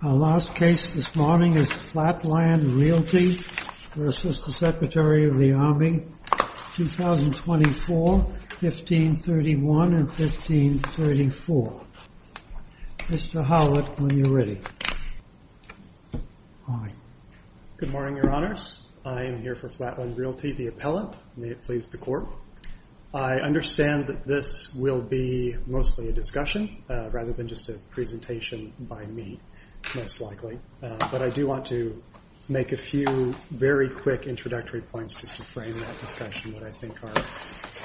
Our last case this morning is Flatland Realty v. Secretary of the Army, 2024, 1531 and 1534. Mr. Howlett, when you're ready. Good morning, Your Honors. I am here for Flatland Realty, the appellant. May it please the Court. I understand that this will be mostly a discussion rather than just a presentation by me, most likely. But I do want to make a few very quick introductory points just to frame that discussion that I think are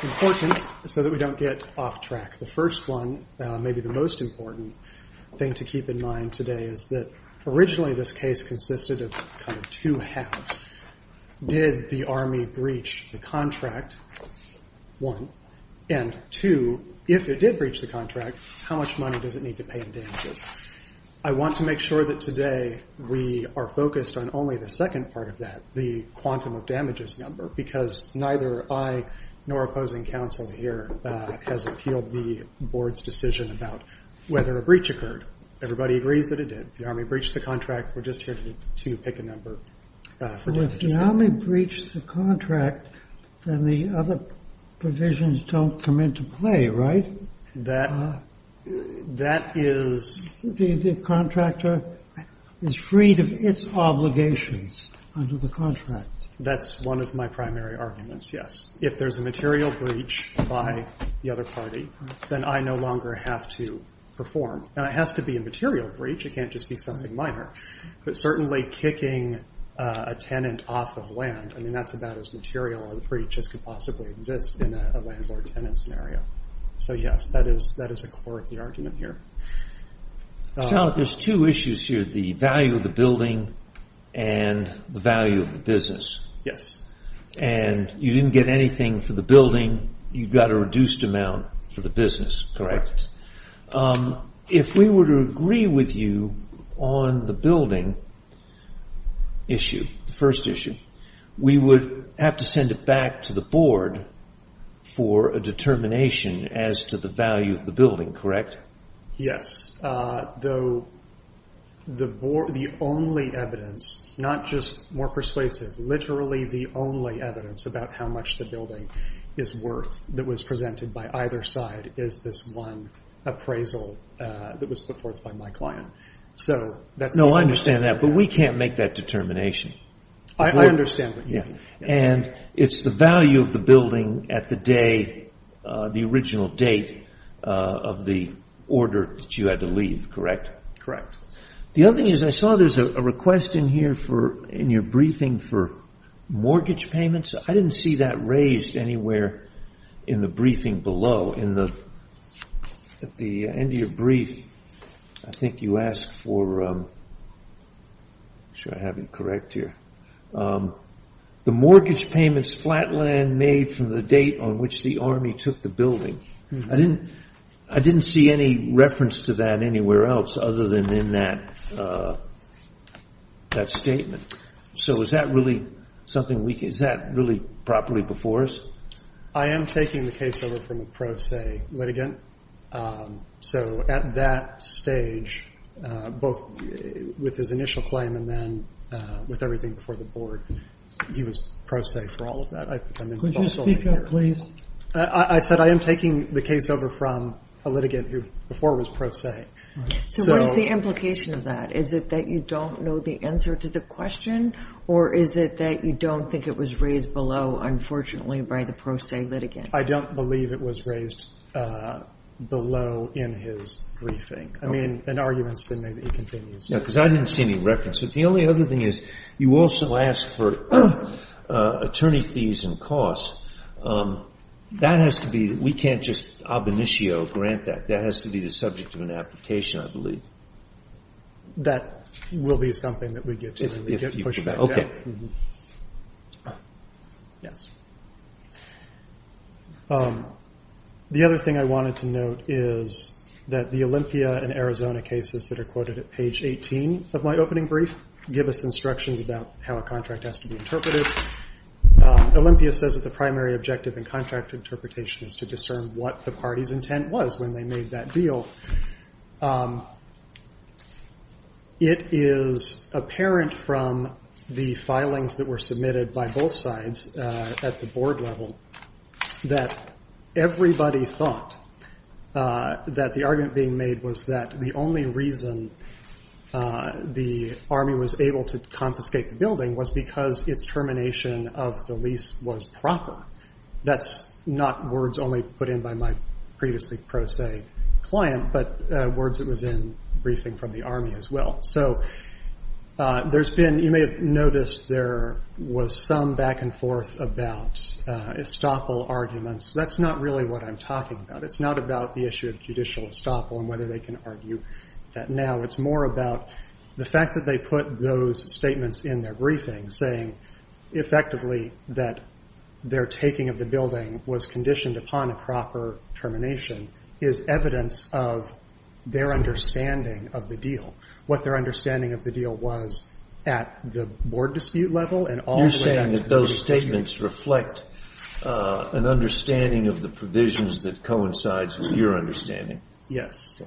important so that we don't get off track. The first one, maybe the most important thing to keep in mind today, is that originally this case consisted of kind of two halves. Did the Army breach the contract? One. And two, if it did breach the contract, how much money does it need to pay in damages? I want to make sure that today we are focused on only the second part of that, the quantum of damages number, because neither I nor opposing counsel here has appealed the Board's decision about whether a breach occurred. Everybody agrees that it did. The Army breached the contract. We're just here to pick a number for damages. But if the Army breached the contract, then the other provisions don't come into play, right? That is – The contractor is freed of its obligations under the contract. That's one of my primary arguments, yes. If there's a material breach by the other party, then I no longer have to perform. It has to be a material breach. It can't just be something minor. But certainly kicking a tenant off of land, that's about as material a breach as could possibly exist in a landlord-tenant scenario. Yes, that is a core of the argument here. There's two issues here, the value of the building and the value of the business. Yes. You didn't get anything for the building. You got a reduced amount for the business, correct? Correct. If we were to agree with you on the building issue, the first issue, we would have to send it back to the Board for a determination as to the value of the building, correct? Yes, though the only evidence, not just more persuasive, literally the only evidence about how much the building is worth that was presented by either side is this one appraisal that was put forth by my client. No, I understand that, but we can't make that determination. I understand what you mean. It's the value of the building at the day, the original date of the order that you had to leave, correct? The other thing is I saw there's a request in here in your briefing for mortgage payments. I didn't see that raised anywhere in the briefing below. At the end of your brief, I think you asked for, I'm not sure I have it correct here, the mortgage payments Flatland made from the date on which the Army took the building. I didn't see any reference to that anywhere else other than in that statement. So is that really properly before us? I am taking the case over from a pro se litigant. So at that stage, both with his initial claim and then with everything before the Board, he was pro se for all of that. Could you speak up, please? I said I am taking the case over from a litigant who before was pro se. So what is the implication of that? Is it that you don't know the answer to the question, or is it that you don't think it was raised below, unfortunately, by the pro se litigant? I don't believe it was raised below in his briefing. I mean, an argument has been made that he continues. No, because I didn't see any reference. But the only other thing is you also asked for attorney fees and costs. That has to be, we can't just ab initio grant that. That has to be the subject of an application, I believe. That will be something that we get to. Okay. Yes. The other thing I wanted to note is that the Olympia and Arizona cases that are quoted at page 18 of my opening brief give us instructions about how a contract has to be interpreted. Olympia says that the primary objective in contract interpretation is to discern what the party's intent was when they made that deal. It is apparent from the filings that were submitted by both sides at the board level that everybody thought that the argument being made was that the only reason the army was able to confiscate the building was because its termination of the lease was proper. That's not words only put in by my previously pro se client, but words that was in briefing from the army as well. So there's been, you may have noticed there was some back and forth about estoppel arguments. That's not really what I'm talking about. It's not about the issue of judicial estoppel and whether they can argue that now. It's more about the fact that they put those statements in their briefing saying effectively that their taking of the building was conditioned upon a proper termination is evidence of their understanding of the deal. What their understanding of the deal was at the board dispute level. You're saying that those statements reflect an understanding of the provisions that coincides with your understanding. Yes.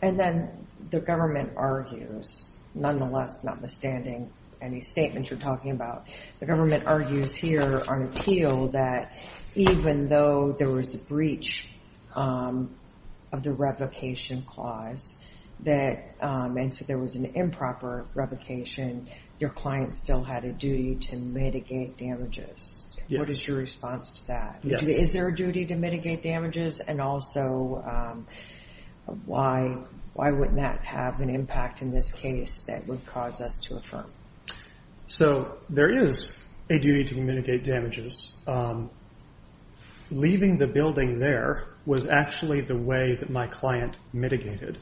And then the government argues, nonetheless, notwithstanding any statements you're talking about, the government argues here on appeal that even though there was a breach of the revocation clause, that there was an improper revocation, your client still had a duty to mitigate damages. What is your response to that? Is there a duty to mitigate damages and also why wouldn't that have an impact in this case that would cause us to affirm? So there is a duty to mitigate damages. Leaving the building there was actually the way that my client mitigated.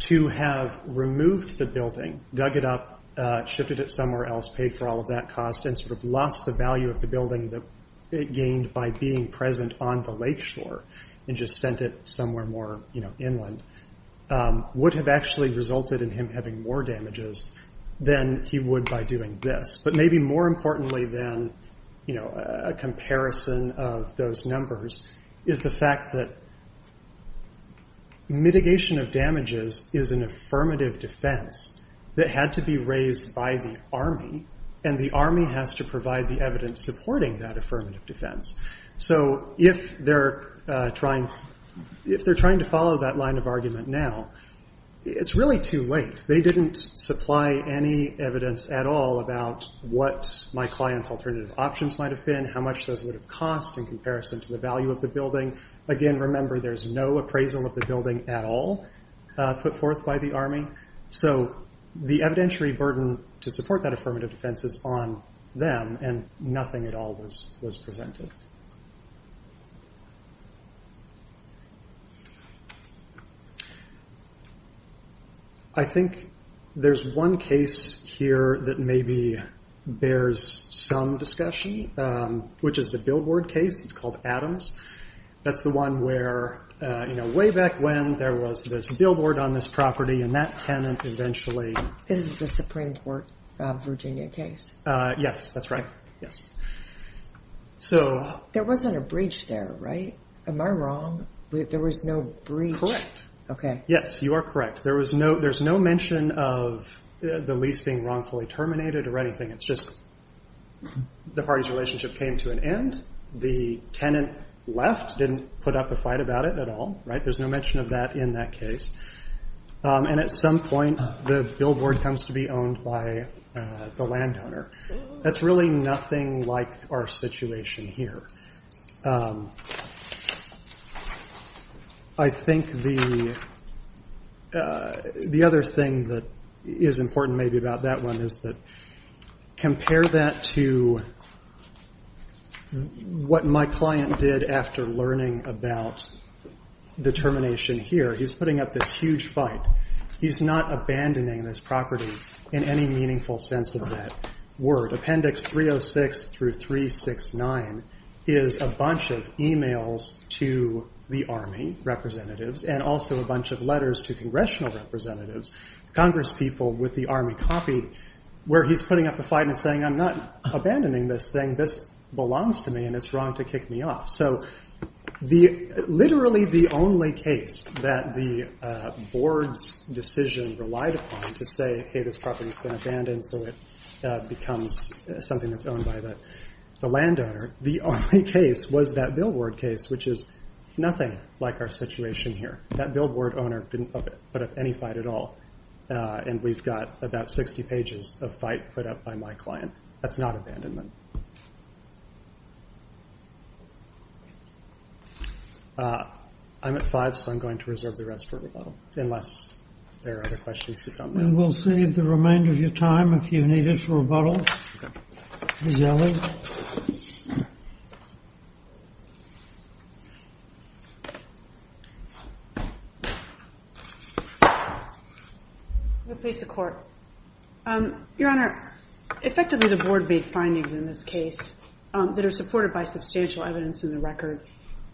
To have removed the building, dug it up, shifted it somewhere else, paid for all of that cost, and sort of lost the value of the building that it gained by being present on the lakeshore and just sent it somewhere more inland, would have actually resulted in him having more damages than he would by doing this. But maybe more importantly than a comparison of those numbers is the fact that mitigation of damages is not just about mitigating damages. Mitigation of damages is an affirmative defense that had to be raised by the army and the army has to provide the evidence supporting that affirmative defense. So if they're trying to follow that line of argument now, it's really too late. They didn't supply any evidence at all about what my client's alternative options might have been, how much those would have cost in comparison to the value of the building. Again, remember there's no appraisal of the building at all put forth by the army. So the evidentiary burden to support that affirmative defense is on them and nothing at all was presented. I think there's one case here that maybe bears some discussion, which is the billboard case. It's called Adams. That's the one where way back when there was this billboard on this property and that tenant eventually... Is the Supreme Court Virginia case? Yes, that's right. There wasn't a breach there, right? Am I wrong? There was no breach? Correct. Yes, you are correct. There's no mention of the lease being wrongfully terminated or anything. It's just the party's relationship came to an end. The tenant left, didn't put up a fight about it at all. There's no mention of that in that case. At some point, the billboard comes to be owned by the landowner. That's really nothing like our situation here. I think the other thing that is important maybe about that one is that compare that to what my client did after learning about the termination here. He's putting up this huge fight. He's not abandoning this property in any meaningful sense of that word. Appendix 306 through 369 is a bunch of emails to the Army representatives and also a bunch of letters to Congressional representatives. Congress people with the Army copy where he's putting up a fight and saying, I'm not abandoning this thing. This belongs to me and it's wrong to kick me off. Literally the only case that the board's decision relied upon to say, hey, this property's been abandoned so it becomes something that's owned by the landowner. The only case was that billboard case, which is nothing like our situation here. That billboard owner didn't put up any fight at all. And we've got about 60 pages of fight put up by my client. That's not abandonment. I'm at five, so I'm going to reserve the rest for rebuttal unless there are other questions. And we'll save the remainder of your time if you need it for rebuttal. I'm going to place the court. Your Honor, effectively the board made findings in this case that are supported by substantial evidence in the record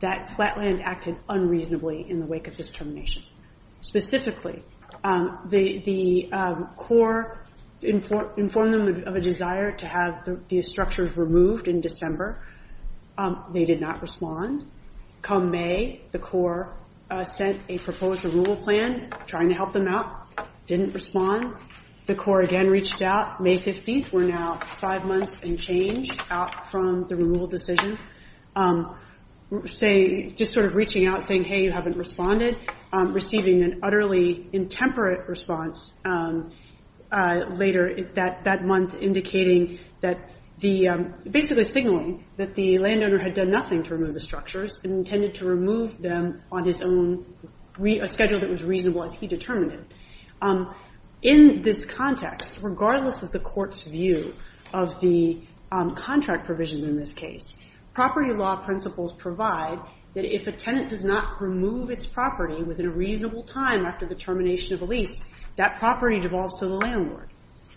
that Flatland acted unreasonably in the wake of this termination. Specifically, the court informed them of a desire to have the structures removed in December. They did not respond. Come May, the court sent a proposed removal plan trying to help them out. Didn't respond. The court again reached out May 15th. We're now five months and change out from the removal decision. Just sort of reaching out saying, hey, you haven't responded. Receiving an utterly intemperate response later that month indicating that basically signaling that the landowner had done nothing to remove the structures and intended to remove them on his own schedule that was reasonable as he determined it. In this context, regardless of the court's view of the contract provisions in this case, property law principles provide that if a tenant does not remove its property within a reasonable time after the termination of a lease, that property devolves to the landlord.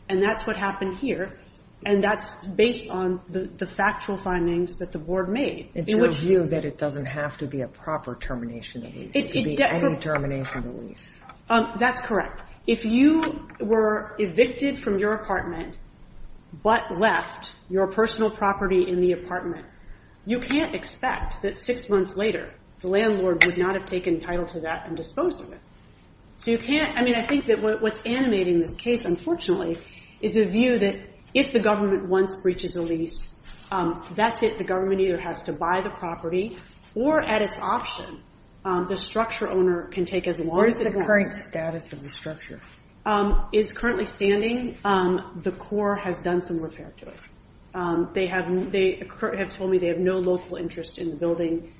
And that's what happened here. And that's based on the factual findings that the board made. It's your view that it doesn't have to be a proper termination of a lease. It could be any termination of a lease. That's correct. If you were evicted from your apartment but left your personal property in the apartment, you can't expect that six months later the landlord would not have taken title to that and disposed of it. So you can't, I mean, I think that what's animating this case, unfortunately, is a view that if the government once breaches a lease, that's it. The government either has to buy the property or at its option, the structure owner can take as long as they want. Where is the current status of the structure? It's currently standing. The court has done some repair to it. They have told me they have no local interest in the building.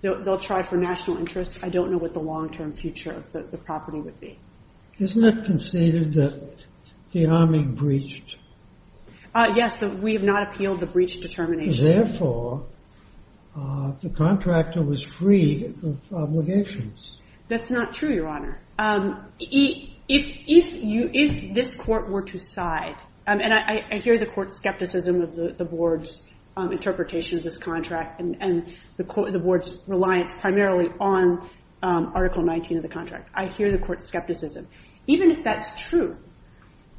They'll try for national interest. I don't know what the long-term future of the property would be. Isn't it conceded that the army breached? Yes, we have not appealed the breach determination. Therefore, the contractor was free of obligations. That's not true, Your Honor. If this court were to side, and I hear the court's skepticism of the board's interpretation of this contract and the board's reliance primarily on Article 19 of the contract. I hear the court's skepticism. Even if that's true,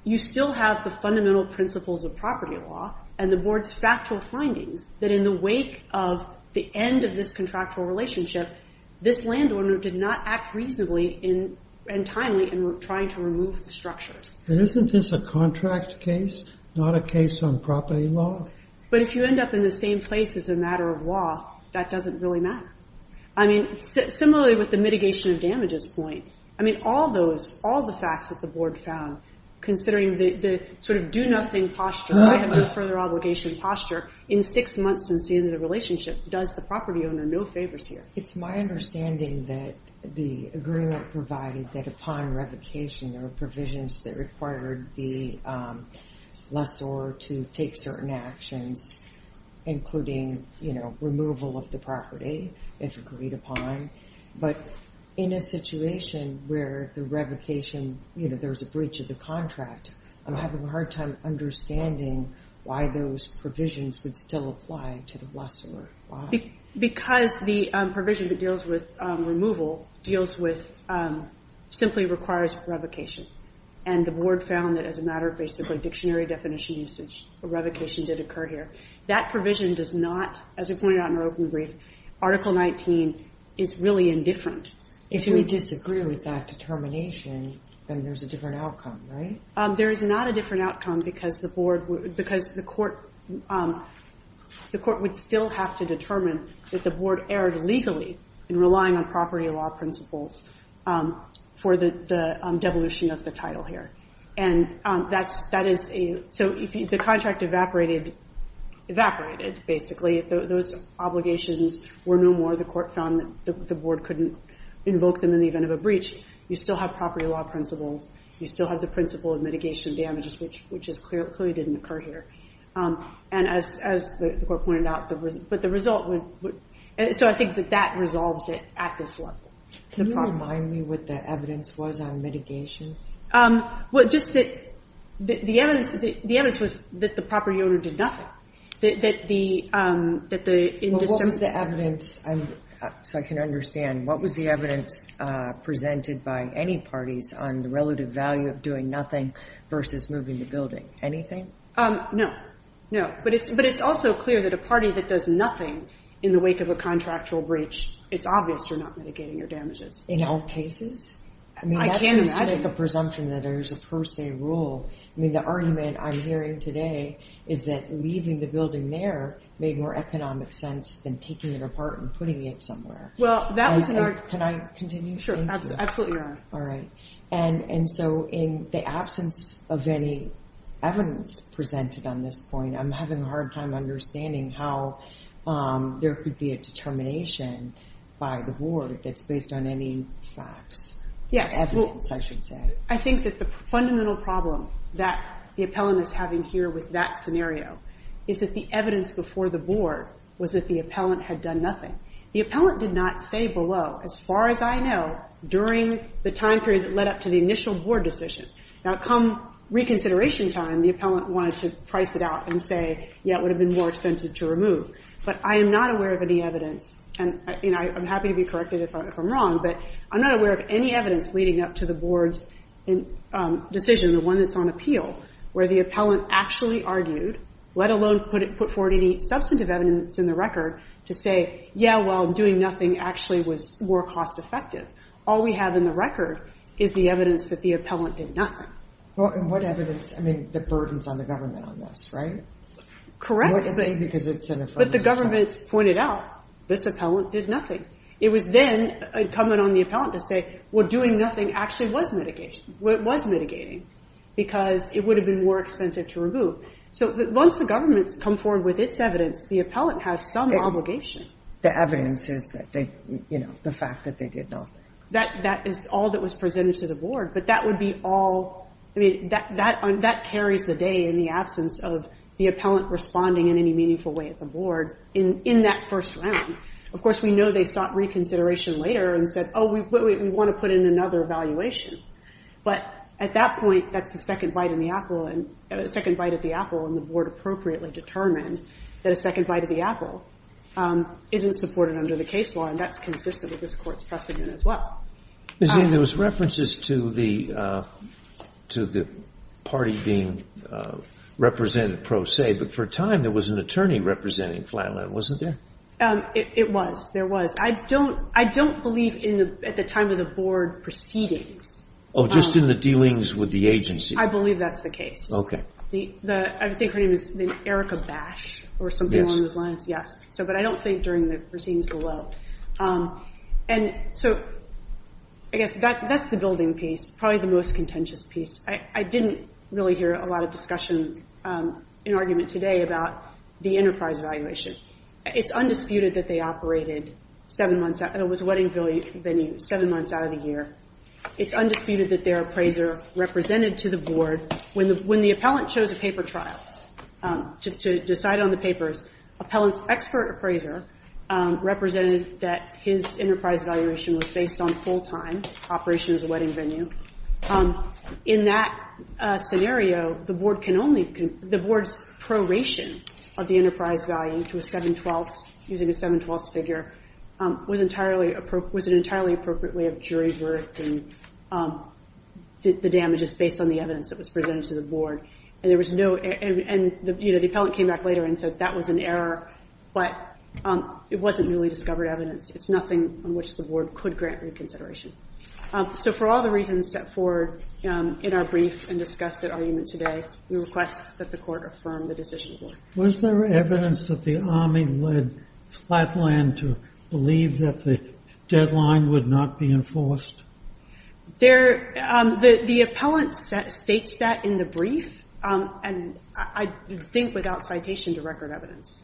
you still have the fundamental principles of property law and the board's factual findings that in the wake of the end of this contractual relationship, this landowner did not act reasonably and timely in trying to remove the structures. Isn't this a contract case, not a case on property law? But if you end up in the same place as a matter of law, that doesn't really matter. I mean, similarly with the mitigation of damages point, I mean, all those, all the facts that the board found, considering the sort of do-nothing posture, I have no further obligation posture, in six months since the end of the relationship, does the property owner no favors here? It's my understanding that the agreement provided that upon revocation there were provisions that required the lessor to take certain actions, including removal of the property, if agreed upon. But in a situation where the revocation, there's a breach of the contract, I'm having a hard time understanding why those provisions would still apply to the lessor. Because the provision that deals with removal deals with, simply requires revocation. And the board found that as a matter of basically dictionary definition usage, a revocation did occur here. That provision does not, as we pointed out in our open brief, Article 19 is really indifferent. If we disagree with that determination, then there's a different outcome, right? There is not a different outcome because the board, because the court would still have to determine that the board erred legally in relying on property law principles for the devolution of the title here. So if the contract evaporated, basically, if those obligations were no more, the court found that the board couldn't invoke them in the event of a breach, you still have property law principles, you still have the principle of mitigation damages, which clearly didn't occur here. And as the court pointed out, but the result would, so I think that that resolves it at this level. Can you remind me what the evidence was on mitigation? The evidence was that the property owner did nothing. What was the evidence, so I can understand, what was the evidence presented by any parties on the relative value of doing nothing versus moving the building? Anything? No. But it's also clear that a party that does nothing in the wake of a contractual breach, it's obvious you're not mitigating your damages. In all cases? I can't imagine. I mean, that's just to make a presumption that there's a per se rule. I mean, the argument I'm hearing today is that leaving the building there made more economic sense than taking it apart and putting it somewhere. Well, that was an argument. Can I continue? Sure, absolutely. All right. And so in the absence of any evidence presented on this point, I'm having a hard time understanding how there could be a determination by the board that's based on any facts, evidence, I should say. I think that the fundamental problem that the appellant is having here with that scenario is that the evidence before the board was that the appellant had done nothing. The appellant did not say below, as far as I know, during the time period that led up to the initial board decision. Now, come reconsideration time, the appellant wanted to price it out and say, yeah, it would have been more expensive to remove. But I am not aware of any evidence, and I'm happy to be corrected if I'm wrong, but I'm not aware of any evidence leading up to the board's decision, the one that's on appeal, where the appellant actually argued, let alone put forward any substantive evidence in the record to say, yeah, well, doing nothing actually was more cost-effective. All we have in the record is the evidence that the appellant did nothing. What evidence? I mean, the burdens on the government on this, right? Correct. But the government pointed out this appellant did nothing. It was then incumbent on the appellant to say, well, doing nothing actually was mitigating, because it would have been more expensive to remove. So once the government's come forward with its evidence, the appellant has some obligation. The evidence is that the fact that they did nothing. That is all that was presented to the board. But that would be all, I mean, that carries the day in the absence of the appellant responding in any meaningful way at the board in that first round. Of course, we know they sought reconsideration later and said, oh, we want to put in another evaluation. But at that point, that's the second bite at the apple, and the board appropriately determined that a second bite at the apple isn't supported under the case law, and that's consistent with this Court's precedent as well. There was references to the party being represented pro se, but for a time there was an attorney representing Flatland, wasn't there? It was. There was. I don't believe at the time of the board proceedings Oh, just in the dealings with the agency. I believe that's the case. Okay. I think her name is Erica Bash, or something along those lines, yes. But I don't think during the proceedings below. And so I guess that's the building piece, probably the most contentious piece. I didn't really hear a lot of discussion and argument today about the enterprise evaluation. It's undisputed that they operated it was a wedding venue seven months out of the year. It's undisputed that their appraiser represented to the board, when the appellant chose a paper trial to decide on the papers, appellant's expert appraiser represented that his enterprise evaluation was based on full-time operations wedding venue. In that scenario, the board can only, the board's proration of the enterprise value to a seven-twelfths, using a seven-twelfths figure, was an entirely appropriate way of jury verifying the damages based on the evidence that was presented to the board. And the appellant came back later and said that was an error, but it wasn't newly discovered evidence. It's nothing on which the board could grant reconsideration. So for all the reasons set forward in our brief and discussed at argument today, we request that the court affirm the decision. Was there evidence that the army led Flatland to believe that the deadline would not be enforced? The appellant states that in the brief, and I think without citation to record evidence.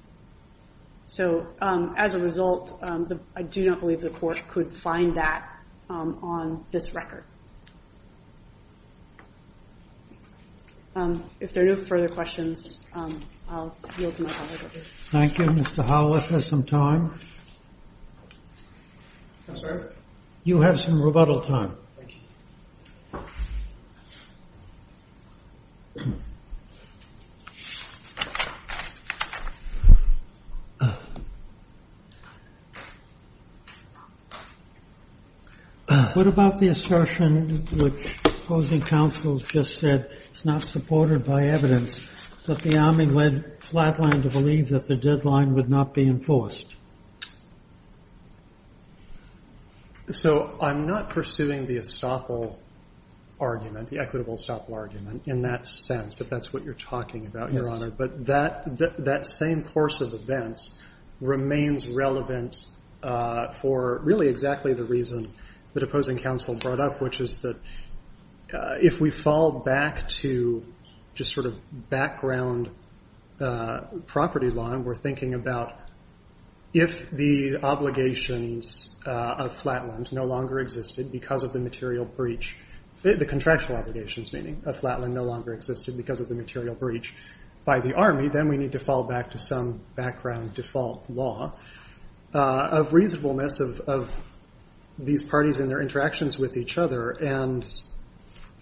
So as a result, I do not believe the court could find that on this record. If there are no further questions, I'll yield to my colleague over here. Thank you. Mr. Howlett has some time. I'm sorry? You have some rebuttal time. Thank you. What about the assertion which opposing counsel just said it's not supported by evidence that the army led Flatland to believe that the deadline would not be enforced? So I'm not pursuing the establishment of a deadline. I'm pursuing the equitable stop argument in that sense, if that's what you're talking about, Your Honor. But that same course of events remains relevant for really exactly the reason that opposing counsel brought up, which is that if we fall back to just sort of background property law and we're thinking about if the obligations of Flatland no longer existed because of the material breach, the contractual obligations meaning, of Flatland no longer existed because of the material breach by the army, then we need to fall back to some background default law of reasonableness of these parties and their interactions with each other. And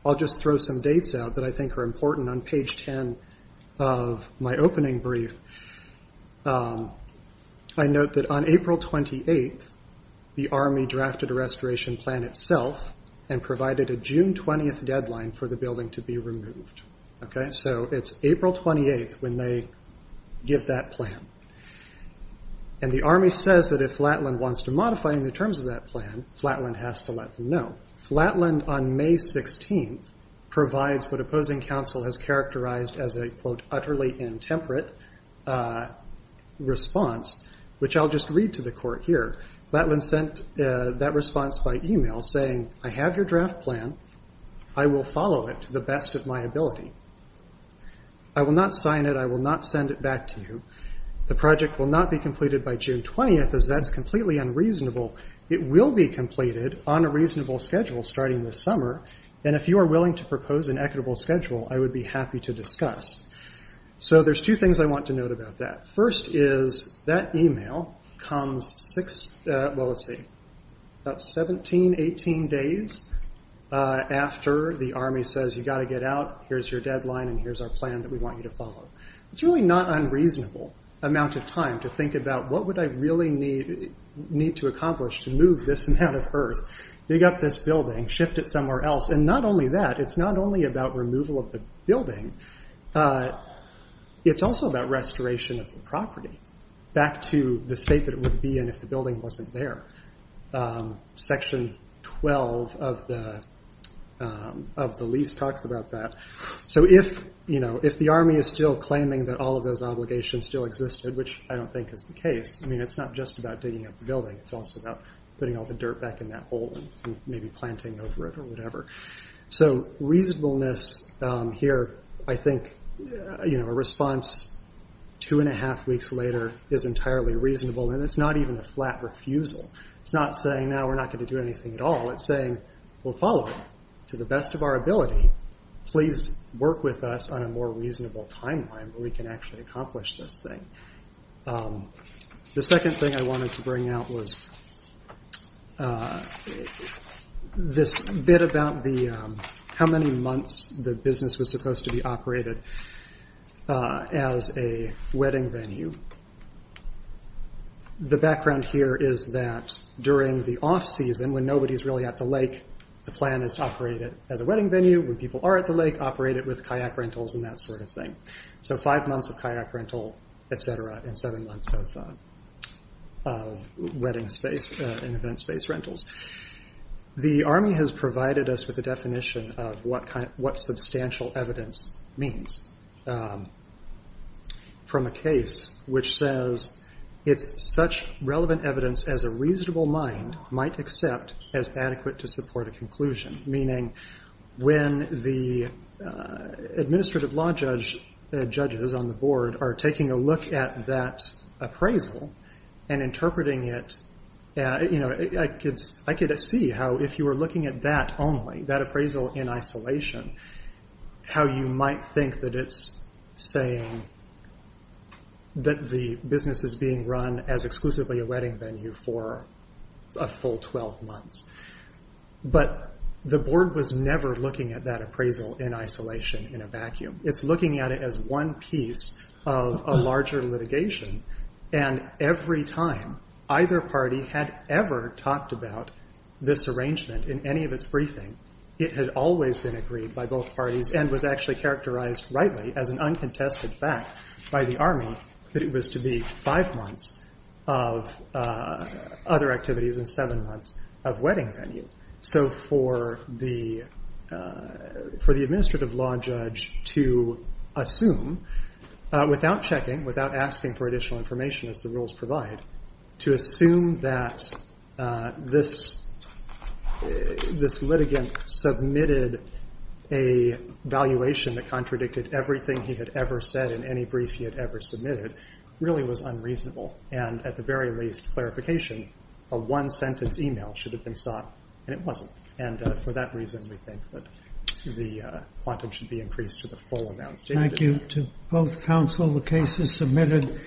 I'll just throw some dates out that I think are important on page 10 of my opening brief. I note that on April 28th, the army drafted a restoration plan itself and provided a June 20th deadline for the building to be removed. So it's April 28th when they give that plan. And the army says that if Flatland wants to modify any terms of that plan, Flatland has to let them know. Flatland on May 16th provides what opposing counsel has characterized as a utterly intemperate response, which I'll just read to the court here. Flatland sent that response by email saying, I have your draft plan. I will follow it to the best of my ability. I will not sign it. I will not send it back to you. The project will not be completed by June 20th as that's completely unreasonable. It will be completed on a reasonable schedule starting this summer, and if you are willing to propose an equitable schedule I would be happy to discuss. So there's two things I want to note about that. First is that email comes about 17, 18 days after the army says you've got to get out, here's your deadline, and here's our plan that we want you to follow. It's really not an unreasonable amount of time to think about what would I really need to accomplish to move this amount of earth, dig up this building, shift it somewhere else. And not only that, it's not only about removal of the building, it's also about restoration of the property back to the state that it would be in if the building wasn't there. Section 12 of the lease talks about that. So if the army is still claiming that all of those obligations still existed, which I don't think is the case, it's not just about digging up the building, it's also about putting all the dirt back in that hole and maybe planting over it or whatever. So reasonableness here, I think a response two and a half weeks later is entirely reasonable and it's not even a flat refusal. It's not saying now we're not going to do anything at all, it's saying we'll follow it to the best of our ability, please work with us on a more reasonable timeline where we can actually accomplish this thing. The second thing I wanted to bring out was this bit about how many months the business was supposed to be operated as a wedding venue. The background here is that during the off season, when nobody's really at the lake, the plan is to operate it as a wedding venue. When people are at the lake, operate it with kayak rentals and that sort of thing. So five months of kayak rental, et cetera, and seven months of wedding space and event space rentals. The Army has provided us with a definition of what substantial evidence means from a case which says it's such relevant evidence as a reasonable mind might accept as adequate to support a conclusion. Meaning when the administrative law judges on the board are taking a look at that appraisal and interpreting it I could see how if you were looking at that only, that appraisal in isolation, how you might think that it's saying that the business is being run as exclusively a wedding venue for a full 12 months. But the board was never looking at that appraisal in isolation in a vacuum. It's looking at it as one piece of a larger litigation and every time either party had ever talked about this arrangement in any of its briefing, it had always been agreed by both parties and was actually characterized rightly as an uncontested fact by the Army that it was to be five months of other activities and seven months of wedding venue. So for the administrative law judge to assume without checking, without asking for additional information as the rules provide, to assume that this litigant submitted a valuation that contradicted everything he had ever said in any brief he had ever submitted really was unreasonable. And at the very least, clarification, a one sentence email should have been sought and it wasn't. And for that reason we think that the quantum should be increased to the full amount stated. Thank you to both counsel. The case is submitted.